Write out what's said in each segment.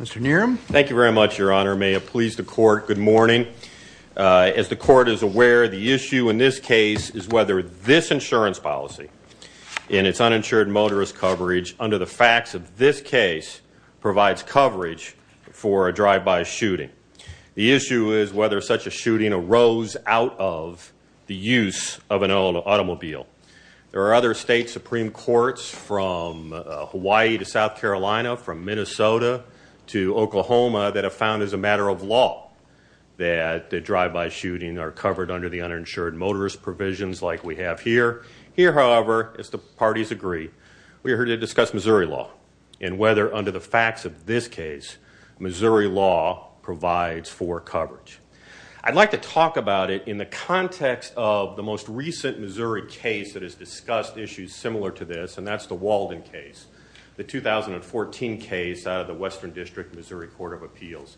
Mr. Neeram, thank you very much, Your Honor. Your Honor, may it please the Court, good morning. As the Court is aware, the issue in this case is whether this insurance policy, in its uninsured motorist coverage, under the facts of this case, provides coverage for a drive-by shooting. The issue is whether such a shooting arose out of the use of an automobile. There are other state Supreme Courts from Hawaii to South Carolina, from Minnesota to Oklahoma, that have found as a matter of law that the drive-by shooting are covered under the uninsured motorist provisions like we have here. Here, however, as the parties agree, we are here to discuss Missouri law and whether under the facts of this case, Missouri law provides for coverage. I'd like to talk about it in the context of the most recent Missouri case that has discussed issues similar to this, and that's the Walden case, the 2014 case out of the Western District Missouri Court of Appeals.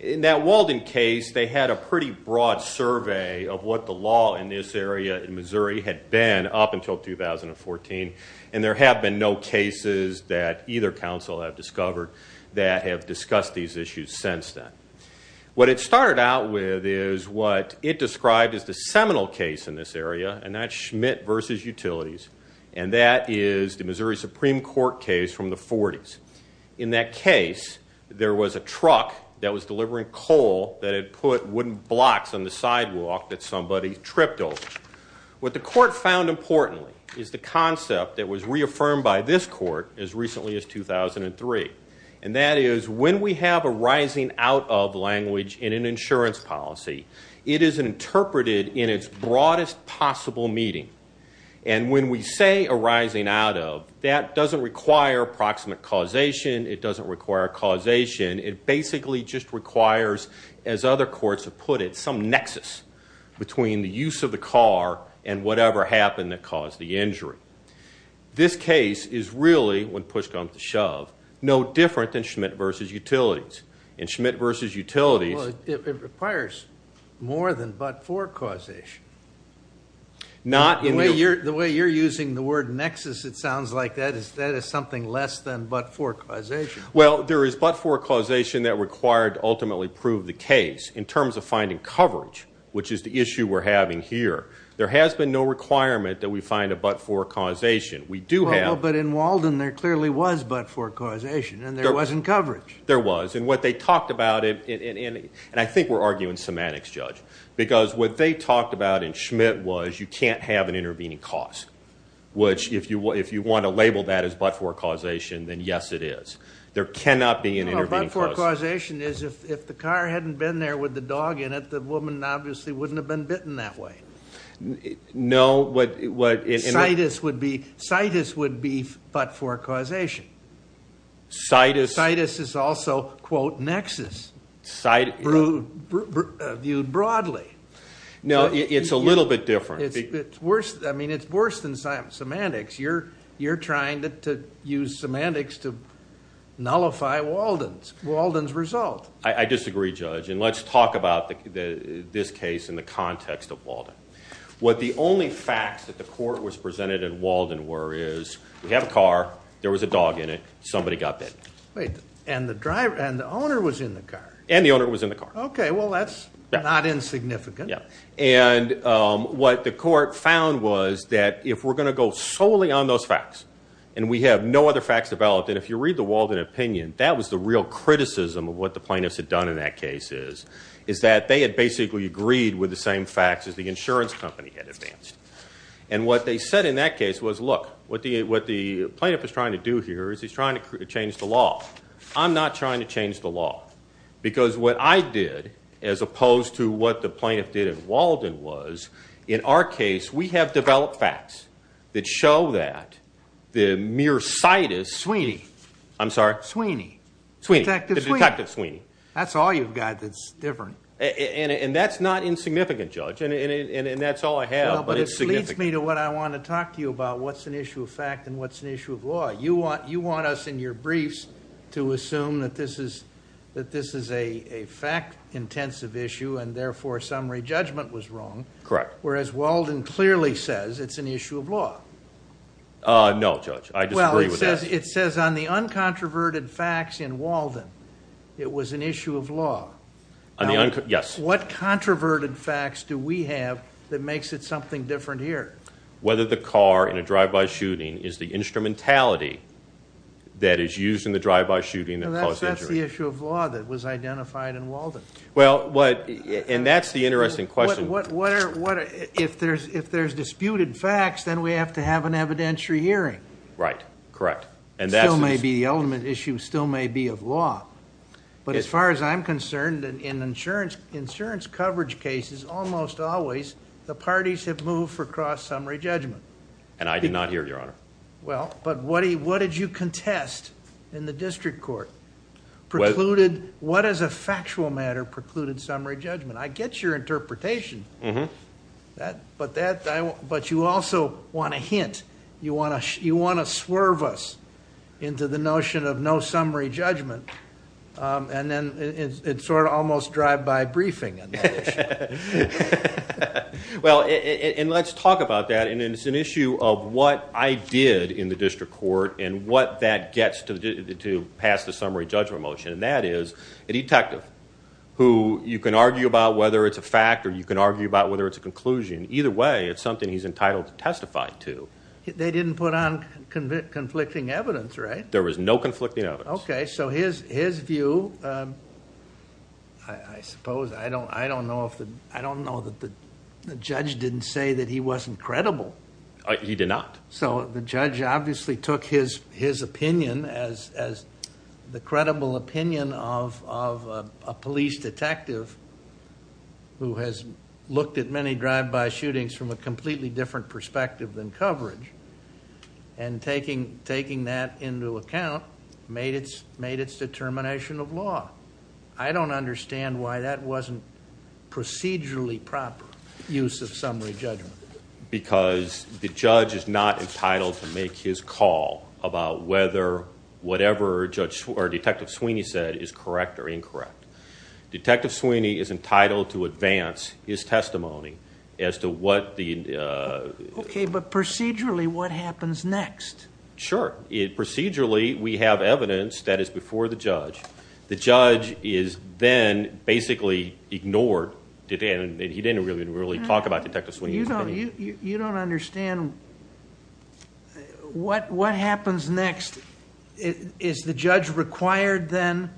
In that Walden case, they had a pretty broad survey of what the law in this area in Missouri had been up until 2014, and there have been no cases that either council have discovered that have discussed these issues since then. What it started out with is what it described as the seminal case in this area, and that's Schmidt v. Utilities, and that is the Missouri Supreme Court case from the 40s. In that case, there was a truck that was delivering coal that had put wooden blocks on the sidewalk that somebody tripped over. What the court found importantly is the concept that was reaffirmed by this court as recently as 2003, and that is when we have a rising out of language in an insurance policy, it is interpreted in its broadest possible meaning, and when we say a rising out of, that doesn't require proximate causation. It doesn't require causation. It basically just requires, as other courts have put it, some nexus between the use of the car and whatever happened that caused the injury. This case is really, when push comes to shove, no different than Schmidt v. Utilities. In Schmidt v. Utilities... Well, it requires more than but-for causation. Not in the... The way you're using the word nexus, it sounds like that is something less than but-for causation. Well, there is but-for causation that required to ultimately prove the case in terms of finding coverage, which is the issue we're having here. There has been no requirement that we find a but-for causation. We do have... Well, but in Walden, there clearly was but-for causation, and there wasn't coverage. There was, and what they talked about, and I think we're arguing semantics, Judge, because what they talked about in Schmidt was you can't have an intervening cause, which if you want to label that as but-for causation, then yes, it is. There cannot be an intervening cause. No, but-for causation is if the car hadn't been there with the dog in it, the woman obviously wouldn't have been bitten that way. No, what... Citus would be but-for causation. Citus... Citus is also, quote, nexus, viewed broadly. No, it's a little bit different. It's worse than semantics. You're trying to use semantics to nullify Walden's result. I disagree, Judge, and let's talk about this case in the context of Walden. What the only facts that the court was presented in Walden were is we have a car, there was a dog in it, somebody got bitten. And the owner was in the car. And the owner was in the car. Okay, well, that's not insignificant. And what the court found was that if we're going to go solely on those facts, and we have no other facts developed, and if you read the Walden opinion, that was the real criticism of what the plaintiffs had done in that case is, is that they had basically agreed with the same facts as the insurance company had advanced. And what they said in that case was, look, what the plaintiff is trying to do here is he's trying to change the law. I'm not trying to change the law. Because what I did, as opposed to what the plaintiff did in Walden was, in our case we have developed facts that show that the mere citus... Sweeney. I'm sorry? Sweeney. Detective Sweeney. That's all you've got that's different. And that's not insignificant, Judge. And that's all I have, but it's significant. Well, but this leads me to what I want to talk to you about, what's an issue of fact and what's an issue of law. You want us in your briefs to assume that this is a fact-intensive issue, and therefore summary judgment was wrong. Correct. Whereas Walden clearly says it's an issue of law. No, Judge. I disagree with that. It says on the uncontroverted facts in Walden it was an issue of law. Yes. What controverted facts do we have that makes it something different here? Whether the car in a drive-by shooting is the instrumentality that is used in the drive-by shooting that caused the injury. That's the issue of law that was identified in Walden. And that's the interesting question. If there's disputed facts, then we have to have an evidentiary hearing. Right. Correct. The ultimate issue still may be of law. But as far as I'm concerned, in insurance coverage cases, almost always the parties have moved for cross-summary judgment. And I did not hear it, Your Honor. Well, but what did you contest in the district court? What is a factual matter precluded summary judgment? I get your interpretation, but you also want a hint. You want to swerve us into the notion of no summary judgment. And then it's sort of almost drive-by briefing. Well, and let's talk about that. And it's an issue of what I did in the district court and what that gets to pass the summary judgment motion. And that is a detective who you can argue about whether it's a fact or you can argue about whether it's a conclusion. Either way, it's something he's entitled to testify to. They didn't put on conflicting evidence, right? There was no conflicting evidence. Okay. So his view, I suppose, I don't know that the judge didn't say that he wasn't credible. He did not. So the judge obviously took his opinion as the credible opinion of a police detective who has looked at many drive-by shootings from a completely different perspective than coverage and taking that into account made its determination of law. I don't understand why that wasn't procedurally proper use of summary judgment. Because the judge is not entitled to make his call about whether whatever Detective Sweeney said is correct or incorrect. Detective Sweeney is entitled to advance his testimony as to what the... Okay. But procedurally, what happens next? Sure. Procedurally, we have evidence that is before the judge. The judge is then basically ignored. He didn't really talk about Detective Sweeney's opinion. You don't understand what happens next. Is the judge required then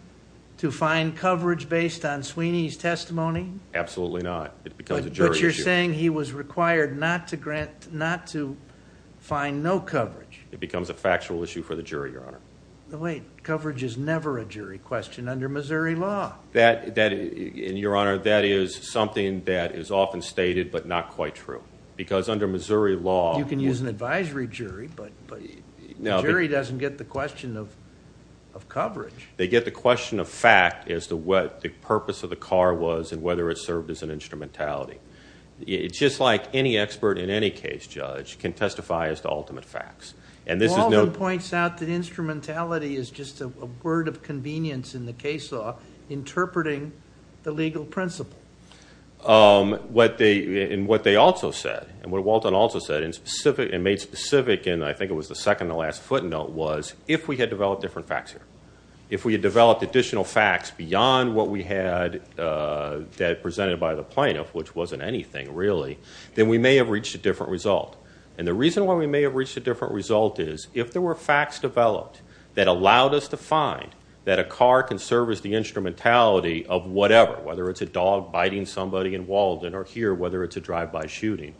to find coverage based on Sweeney's testimony? Absolutely not. It becomes a jury issue. But you're saying he was required not to find no coverage. It becomes a factual issue for the jury, Your Honor. Wait. Coverage is never a jury question under Missouri law. Your Honor, that is something that is often stated but not quite true. Because under Missouri law... They get the question of coverage. They get the question of fact as to what the purpose of the car was and whether it served as an instrumentality. It's just like any expert in any case, Judge, can testify as to ultimate facts. Walton points out that instrumentality is just a word of convenience in the case law, interpreting the legal principle. What they also said, and what Walton also said, and made specific in, I think it was the second to last footnote, was if we had developed different facts here, if we had developed additional facts beyond what we had presented by the plaintiff, which wasn't anything really, then we may have reached a different result. And the reason why we may have reached a different result is if there were facts developed that allowed us to find that a car can serve as the instrumentality of whatever, whether it's a dog biting somebody in Walton or here, whether it's a drive-by shooting,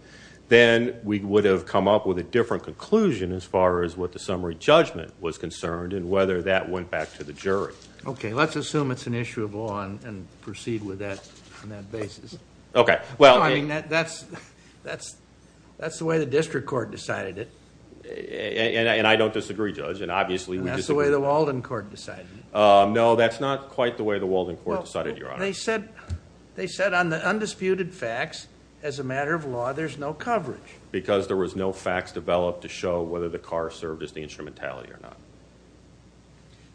then we would have come up with a different conclusion as far as what the summary judgment was concerned and whether that went back to the jury. Okay. Let's assume it's an issue of law and proceed with that on that basis. Okay. I mean, that's the way the district court decided it. And I don't disagree, Judge, and obviously we disagree. And that's the way the Walton court decided it. They said on the undisputed facts, as a matter of law, there's no coverage. Because there was no facts developed to show whether the car served as the instrumentality or not.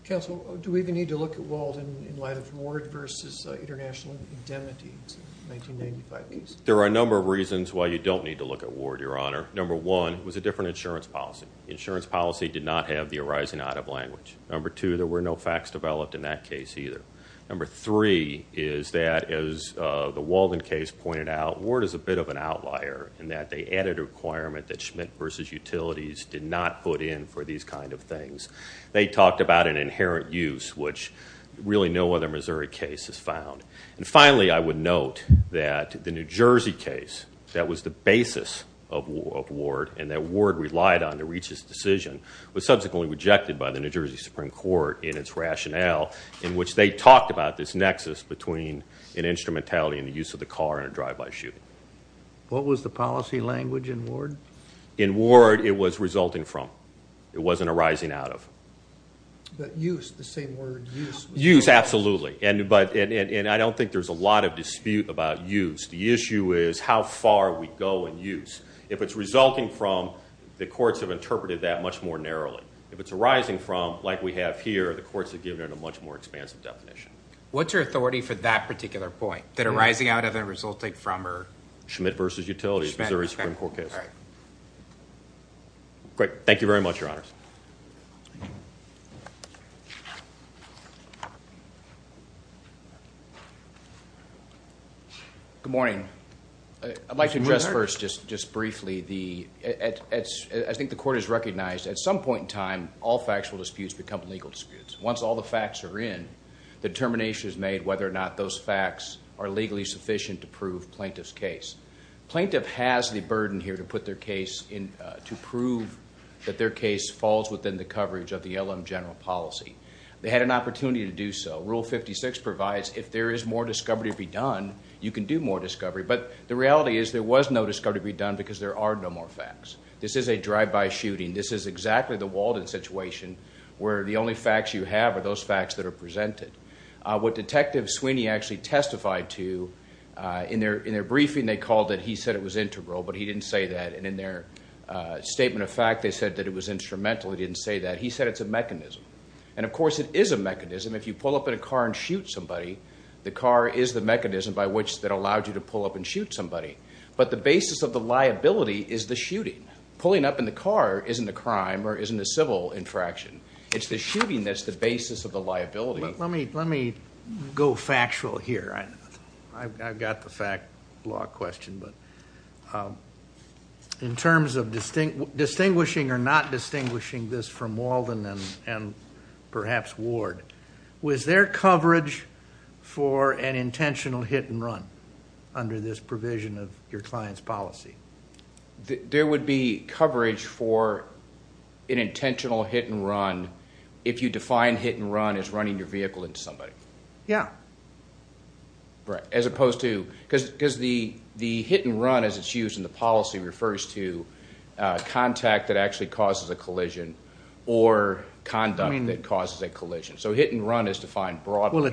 Counsel, do we even need to look at Walton in light of Ward versus international indemnities in the 1995 case? There are a number of reasons why you don't need to look at Ward, Your Honor. Number one was a different insurance policy. The insurance policy did not have the arising out of language. Number two, there were no facts developed in that case either. Number three is that, as the Walden case pointed out, Ward is a bit of an outlier in that they added a requirement that Schmidt versus Utilities did not put in for these kind of things. They talked about an inherent use, which really no other Missouri case has found. And finally, I would note that the New Jersey case that was the basis of Ward and that Ward relied on to reach this decision was subsequently rejected by the New Jersey Supreme Court in its rationale in which they talked about this nexus between an instrumentality and the use of the car in a drive-by shooting. What was the policy language in Ward? In Ward, it was resulting from. It wasn't arising out of. But use, the same word, use. Use, absolutely. And I don't think there's a lot of dispute about use. The issue is how far we go in use. If it's resulting from, the courts have interpreted that much more narrowly. If it's arising from, like we have here, the courts have given it a much more expansive definition. What's your authority for that particular point, that arising out of and resulting from are? Schmidt versus Utilities, Missouri Supreme Court case. All right. Great. Thank you very much, Your Honors. Good morning. I'd like to address first just briefly. I think the court has recognized at some point in time, all factual disputes become legal disputes. Once all the facts are in, the determination is made whether or not those facts are legally sufficient to prove plaintiff's case. Plaintiff has the burden here to prove that their case falls within the coverage of the LM general policy. They had an opportunity to do so. Rule 56 provides if there is more discovery to be done, you can do more discovery. But the reality is there was no discovery to be done because there are no more facts. This is a drive-by shooting. This is exactly the Walden situation where the only facts you have are those facts that are presented. What Detective Sweeney actually testified to in their briefing, they called it, he said it was integral, but he didn't say that. And in their statement of fact, they said that it was instrumental. He didn't say that. He said it's a mechanism. And, of course, it is a mechanism. If you pull up in a car and shoot somebody, the car is the mechanism by which that allowed you to pull up and shoot somebody. But the basis of the liability is the shooting. Pulling up in the car isn't a crime or isn't a civil infraction. It's the shooting that's the basis of the liability. Let me go factual here. I've got the fact law question. But in terms of distinguishing or not distinguishing this from Walden and perhaps Ward, was there coverage for an intentional hit and run under this provision of your client's policy? There would be coverage for an intentional hit and run if you define hit and run as running your vehicle into somebody. Yeah. As opposed to, because the hit and run as it's used in the policy refers to contact that actually causes a collision or conduct that causes a collision. So hit and run is defined broadly.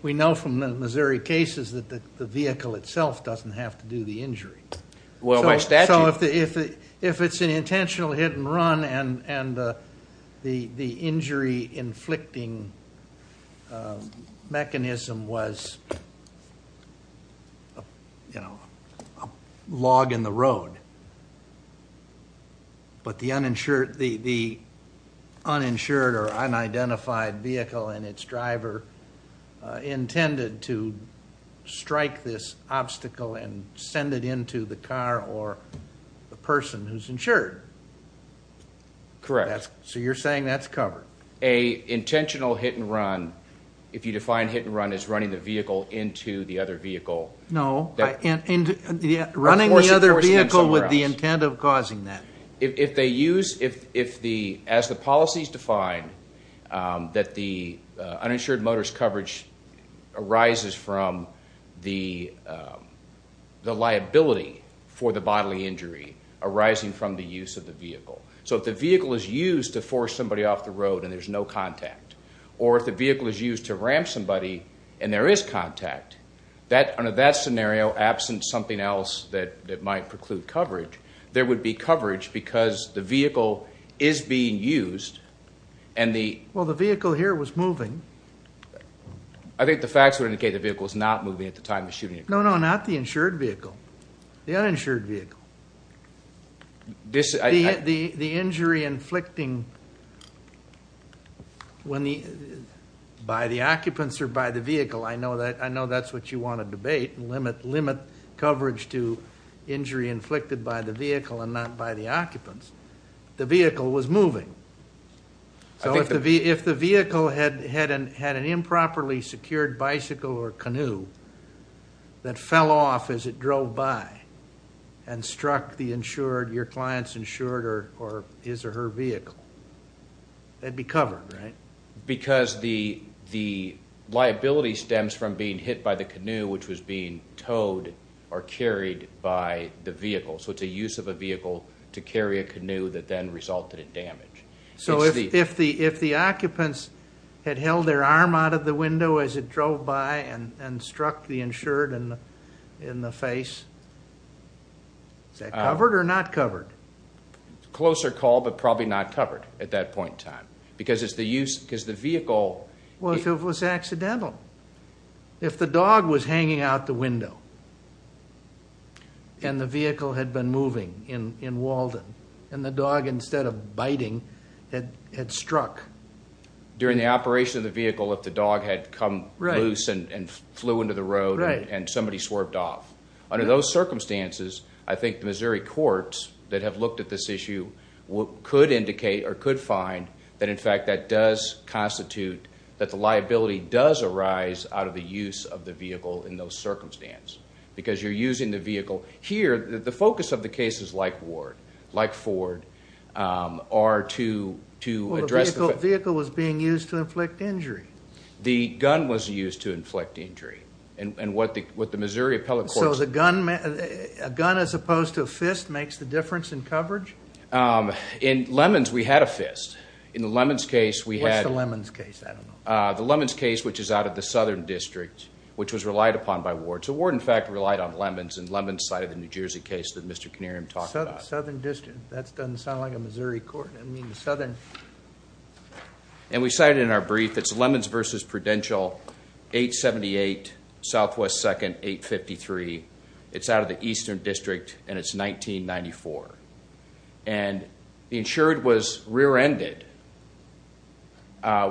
We know from the Missouri cases that the vehicle itself doesn't have to do the injury. Well, by statute. So if it's an intentional hit and run and the injury inflicting mechanism was, you know, a log in the road, but the uninsured or unidentified vehicle and its driver intended to strike this obstacle and send it into the car or the person who's insured. Correct. So you're saying that's covered. An intentional hit and run, if you define hit and run, is running the vehicle into the other vehicle. No. Running the other vehicle with the intent of causing that. If they use, if the, as the policies define that the uninsured motorist coverage arises from the liability for the bodily injury arising from the use of the vehicle. So if the vehicle is used to force somebody off the road and there's no contact, or if the vehicle is used to ramp somebody and there is contact that under that scenario, absent something else that that might preclude coverage, there would be coverage because the vehicle is being used. And the. Well, the vehicle here was moving. I think the facts would indicate the vehicle is not moving at the time of shooting. No, no, not the insured vehicle. The uninsured vehicle. This, I. The injury inflicting when the, by the occupants or by the vehicle. I know that, I know that's what you want to debate and limit, limit coverage to injury inflicted by the vehicle and not by the occupants. The vehicle was moving. So if the vehicle had an improperly secured bicycle or canoe that fell off as it drove by and struck the insured, your client's insured, or his or her vehicle, that'd be covered, right? Because the, the liability stems from being hit by the canoe, which was being towed or carried by the vehicle. So it's a use of a vehicle to carry a canoe that then resulted in damage. So if the, if the occupants had held their arm out of the window as it drove by and struck the insured and in the face, is that covered or not covered? Closer call, but probably not covered at that point in time. Because it's the use, because the vehicle. Well, if it was accidental. If the dog was hanging out the window and the vehicle had been moving in Walden and the dog, instead of biting, had struck. During the operation of the vehicle, if the dog had come loose and flew into the road and somebody swerved off. Under those circumstances, I think the Missouri courts that have looked at this issue could indicate or could find that, in fact, that does constitute, that the liability does arise out of the use of the vehicle in those circumstances. Because you're using the vehicle. Here, the focus of the case is like Ward, like Ford, are to, to address. The vehicle was being used to inflict injury. The gun was used to inflict injury. And what the Missouri appellate courts. So the gun, a gun as opposed to a fist makes the difference in coverage? In Lemons, we had a fist. In the Lemons case, we had. What's the Lemons case? I don't know. The Lemons case, which is out of the Southern District, which was relied upon by Ward. So Ward, in fact, relied on Lemons, and Lemons cited the New Jersey case that Mr. Canarium talked about. That doesn't sound like a Missouri court. I mean, the Southern. And we cited in our brief, it's Lemons versus Prudential, 878 Southwest 2nd, 853. It's out of the Eastern District, and it's 1994. And the insured was rear-ended.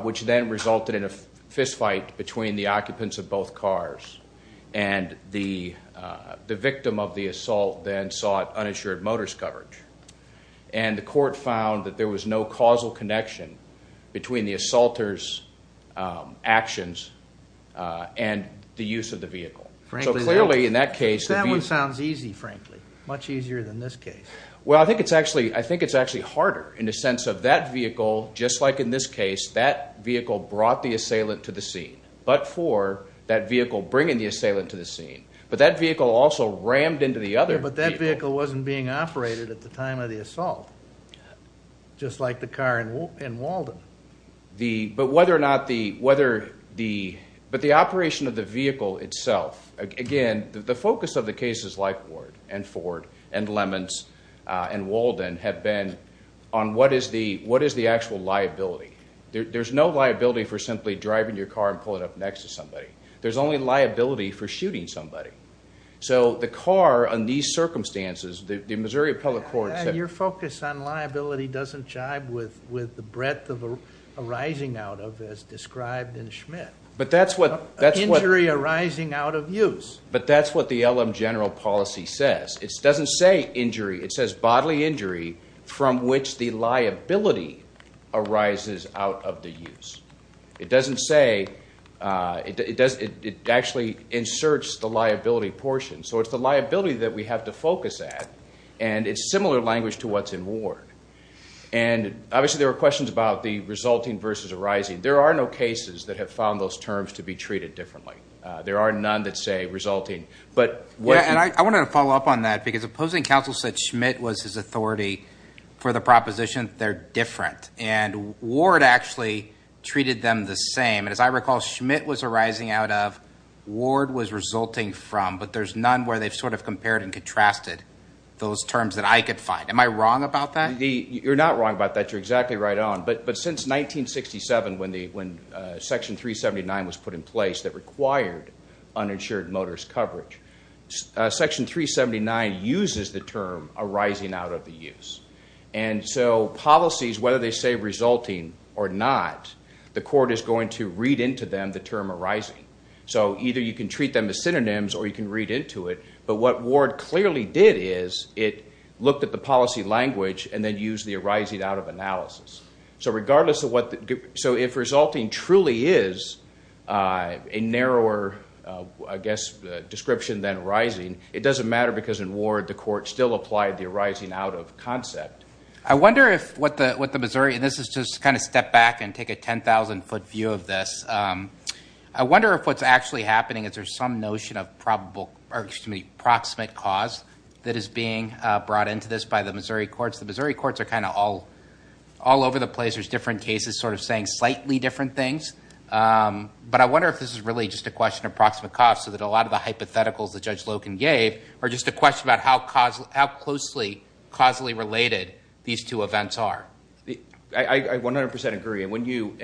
Which then resulted in a fist fight between the occupants of both cars. And the, the victim of the assault then sought uninsured motorist coverage. And the court found that there was no causal connection between the assaulter's actions and the use of the vehicle. So clearly in that case. That one sounds easy, frankly. Much easier than this case. Well, I think it's actually, I think it's actually harder in the sense of that vehicle, just like in this case, that vehicle brought the assailant to the scene. But for that vehicle bringing the assailant to the scene. But that vehicle also rammed into the other vehicle. But that vehicle wasn't being operated at the time of the assault. Just like the car in Walden. The, but whether or not the, whether the, but the operation of the vehicle itself. Again, the focus of the cases like Ward and Ford and Lemons and Walden have been on what is the, what is the actual liability. There's no liability for simply driving your car and pulling up next to somebody. There's only liability for shooting somebody. So the car in these circumstances, the Missouri Appellate Court. Your focus on liability doesn't jibe with the breadth of arising out of as described in Schmidt. But that's what. Injury arising out of use. But that's what the LM general policy says. It doesn't say injury. It says bodily injury from which the liability arises out of the use. It doesn't say it does. It actually inserts the liability portion. So it's the liability that we have to focus at. And it's similar language to what's in Ward. And obviously there are questions about the resulting versus arising. There are no cases that have found those terms to be treated differently. There are none that say resulting. But I wanted to follow up on that because opposing counsel said Schmidt was his authority for the proposition. They're different. And Ward actually treated them the same. And as I recall, Schmidt was arising out of. Ward was resulting from. But there's none where they've sort of compared and contrasted those terms that I could find. Am I wrong about that? You're not wrong about that. You're exactly right on. But since 1967 when Section 379 was put in place that required uninsured motorist coverage, Section 379 uses the term arising out of the use. And so policies, whether they say resulting or not, the court is going to read into them the term arising. So either you can treat them as synonyms or you can read into it. But what Ward clearly did is it looked at the policy language and then used the arising out of analysis. So regardless of what. So if resulting truly is a narrower, I guess, description than arising, it doesn't matter because in Ward the court still applied the arising out of concept. I wonder if what the Missouri, and this is just to kind of step back and take a 10,000-foot view of this. I wonder if what's actually happening is there's some notion of probable or, excuse me, proximate cause that is being brought into this by the Missouri courts. The Missouri courts are kind of all over the place. There's different cases sort of saying slightly different things. But I wonder if this is really just a question of proximate cause so that a lot of the hypotheticals that Judge Loken gave are just a question about how closely causally related these two events are. I 100% agree. And when you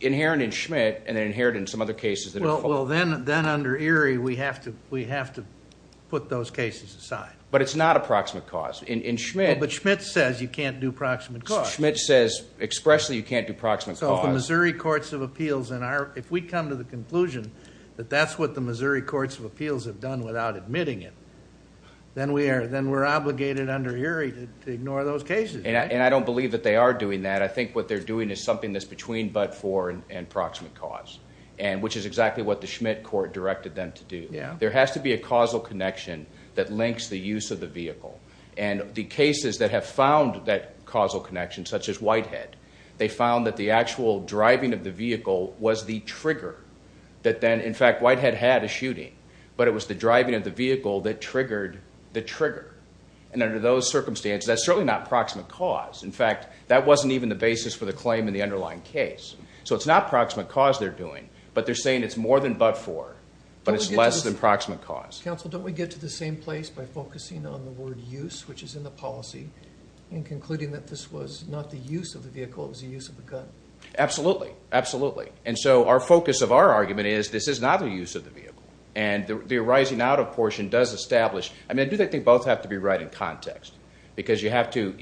inherit in Schmitt and then inherit in some other cases that are followed. Well, then under Erie we have to put those cases aside. But it's not a proximate cause. In Schmitt. But Schmitt says you can't do proximate cause. Schmitt says expressly you can't do proximate cause. So the Missouri courts of appeals, if we come to the conclusion that that's what the Missouri courts of appeals have done without admitting it, then we're obligated under Erie to ignore those cases. And I don't believe that they are doing that. I think what they're doing is something that's between but for and proximate cause, which is exactly what the Schmitt court directed them to do. There has to be a causal connection that links the use of the vehicle. And the cases that have found that causal connection, such as Whitehead, they found that the actual driving of the vehicle was the trigger that then, in fact, Whitehead had a shooting. But it was the driving of the vehicle that triggered the trigger. And under those circumstances, that's certainly not proximate cause. In fact, that wasn't even the basis for the claim in the underlying case. So it's not proximate cause they're doing. But they're saying it's more than but for. But it's less than proximate cause. Counsel, don't we get to the same place by focusing on the word use, which is in the policy, and concluding that this was not the use of the vehicle, it was the use of the gun? Absolutely. Absolutely. And so our focus of our argument is this is not the use of the vehicle. And the arising out of portion does establish. I mean, I do think they both have to be right in context because you have to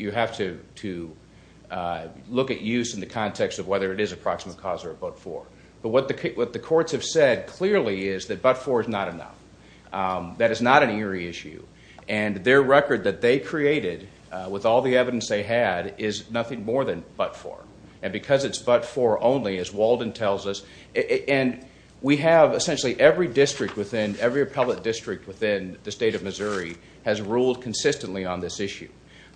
look at use in the context of whether it is approximate cause or but for. But what the courts have said clearly is that but for is not enough. That is not an eerie issue. And their record that they created, with all the evidence they had, is nothing more than but for. And because it's but for only, as Walden tells us, and we have essentially every district within, every appellate district within the state of Missouri, has ruled consistently on this issue.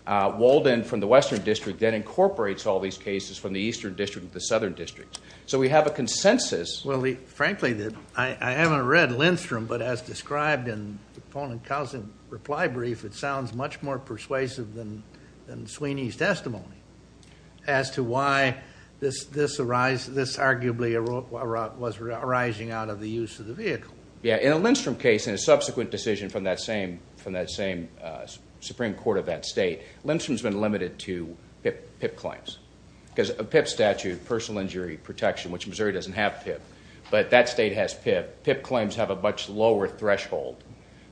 Walden from the Western District then incorporates all these cases from the Eastern District and the Southern District. So we have a consensus. Well, frankly, I haven't read Lindstrom, but as described in the Pohn and Cousin reply brief, it sounds much more persuasive than Sweeney's testimony as to why this arguably was arising out of the use of the vehicle. Yeah, in a Lindstrom case, in a subsequent decision from that same Supreme Court of that state, Lindstrom's been limited to PIP claims. Because a PIP statute, personal injury protection, which Missouri doesn't have PIP, but that state has PIP, PIP claims have a much lower threshold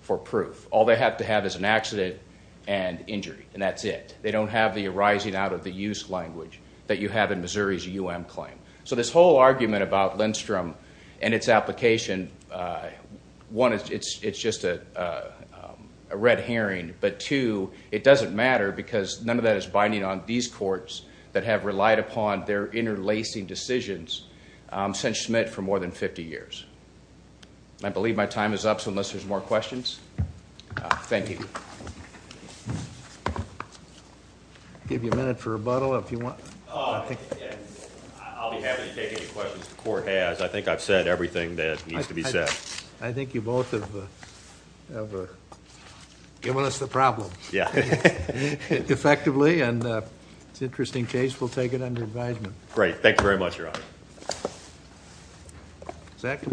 for proof. All they have to have is an accident and injury, and that's it. They don't have the arising out of the use language that you have in Missouri's UM claim. So this whole argument about Lindstrom and its application, one, it's just a red herring, but two, it doesn't matter because none of that is binding on these courts that have relied upon their interlacing decisions since Schmidt for more than 50 years. I believe my time is up, so unless there's more questions, thank you. I'll give you a minute for rebuttal if you want. I'll be happy to take any questions the court has. I think I've said everything that needs to be said. I think you both have given us the problem. Yeah. Effectively, and it's an interesting case. We'll take it under advisement. Great. Thank you very much, Your Honor.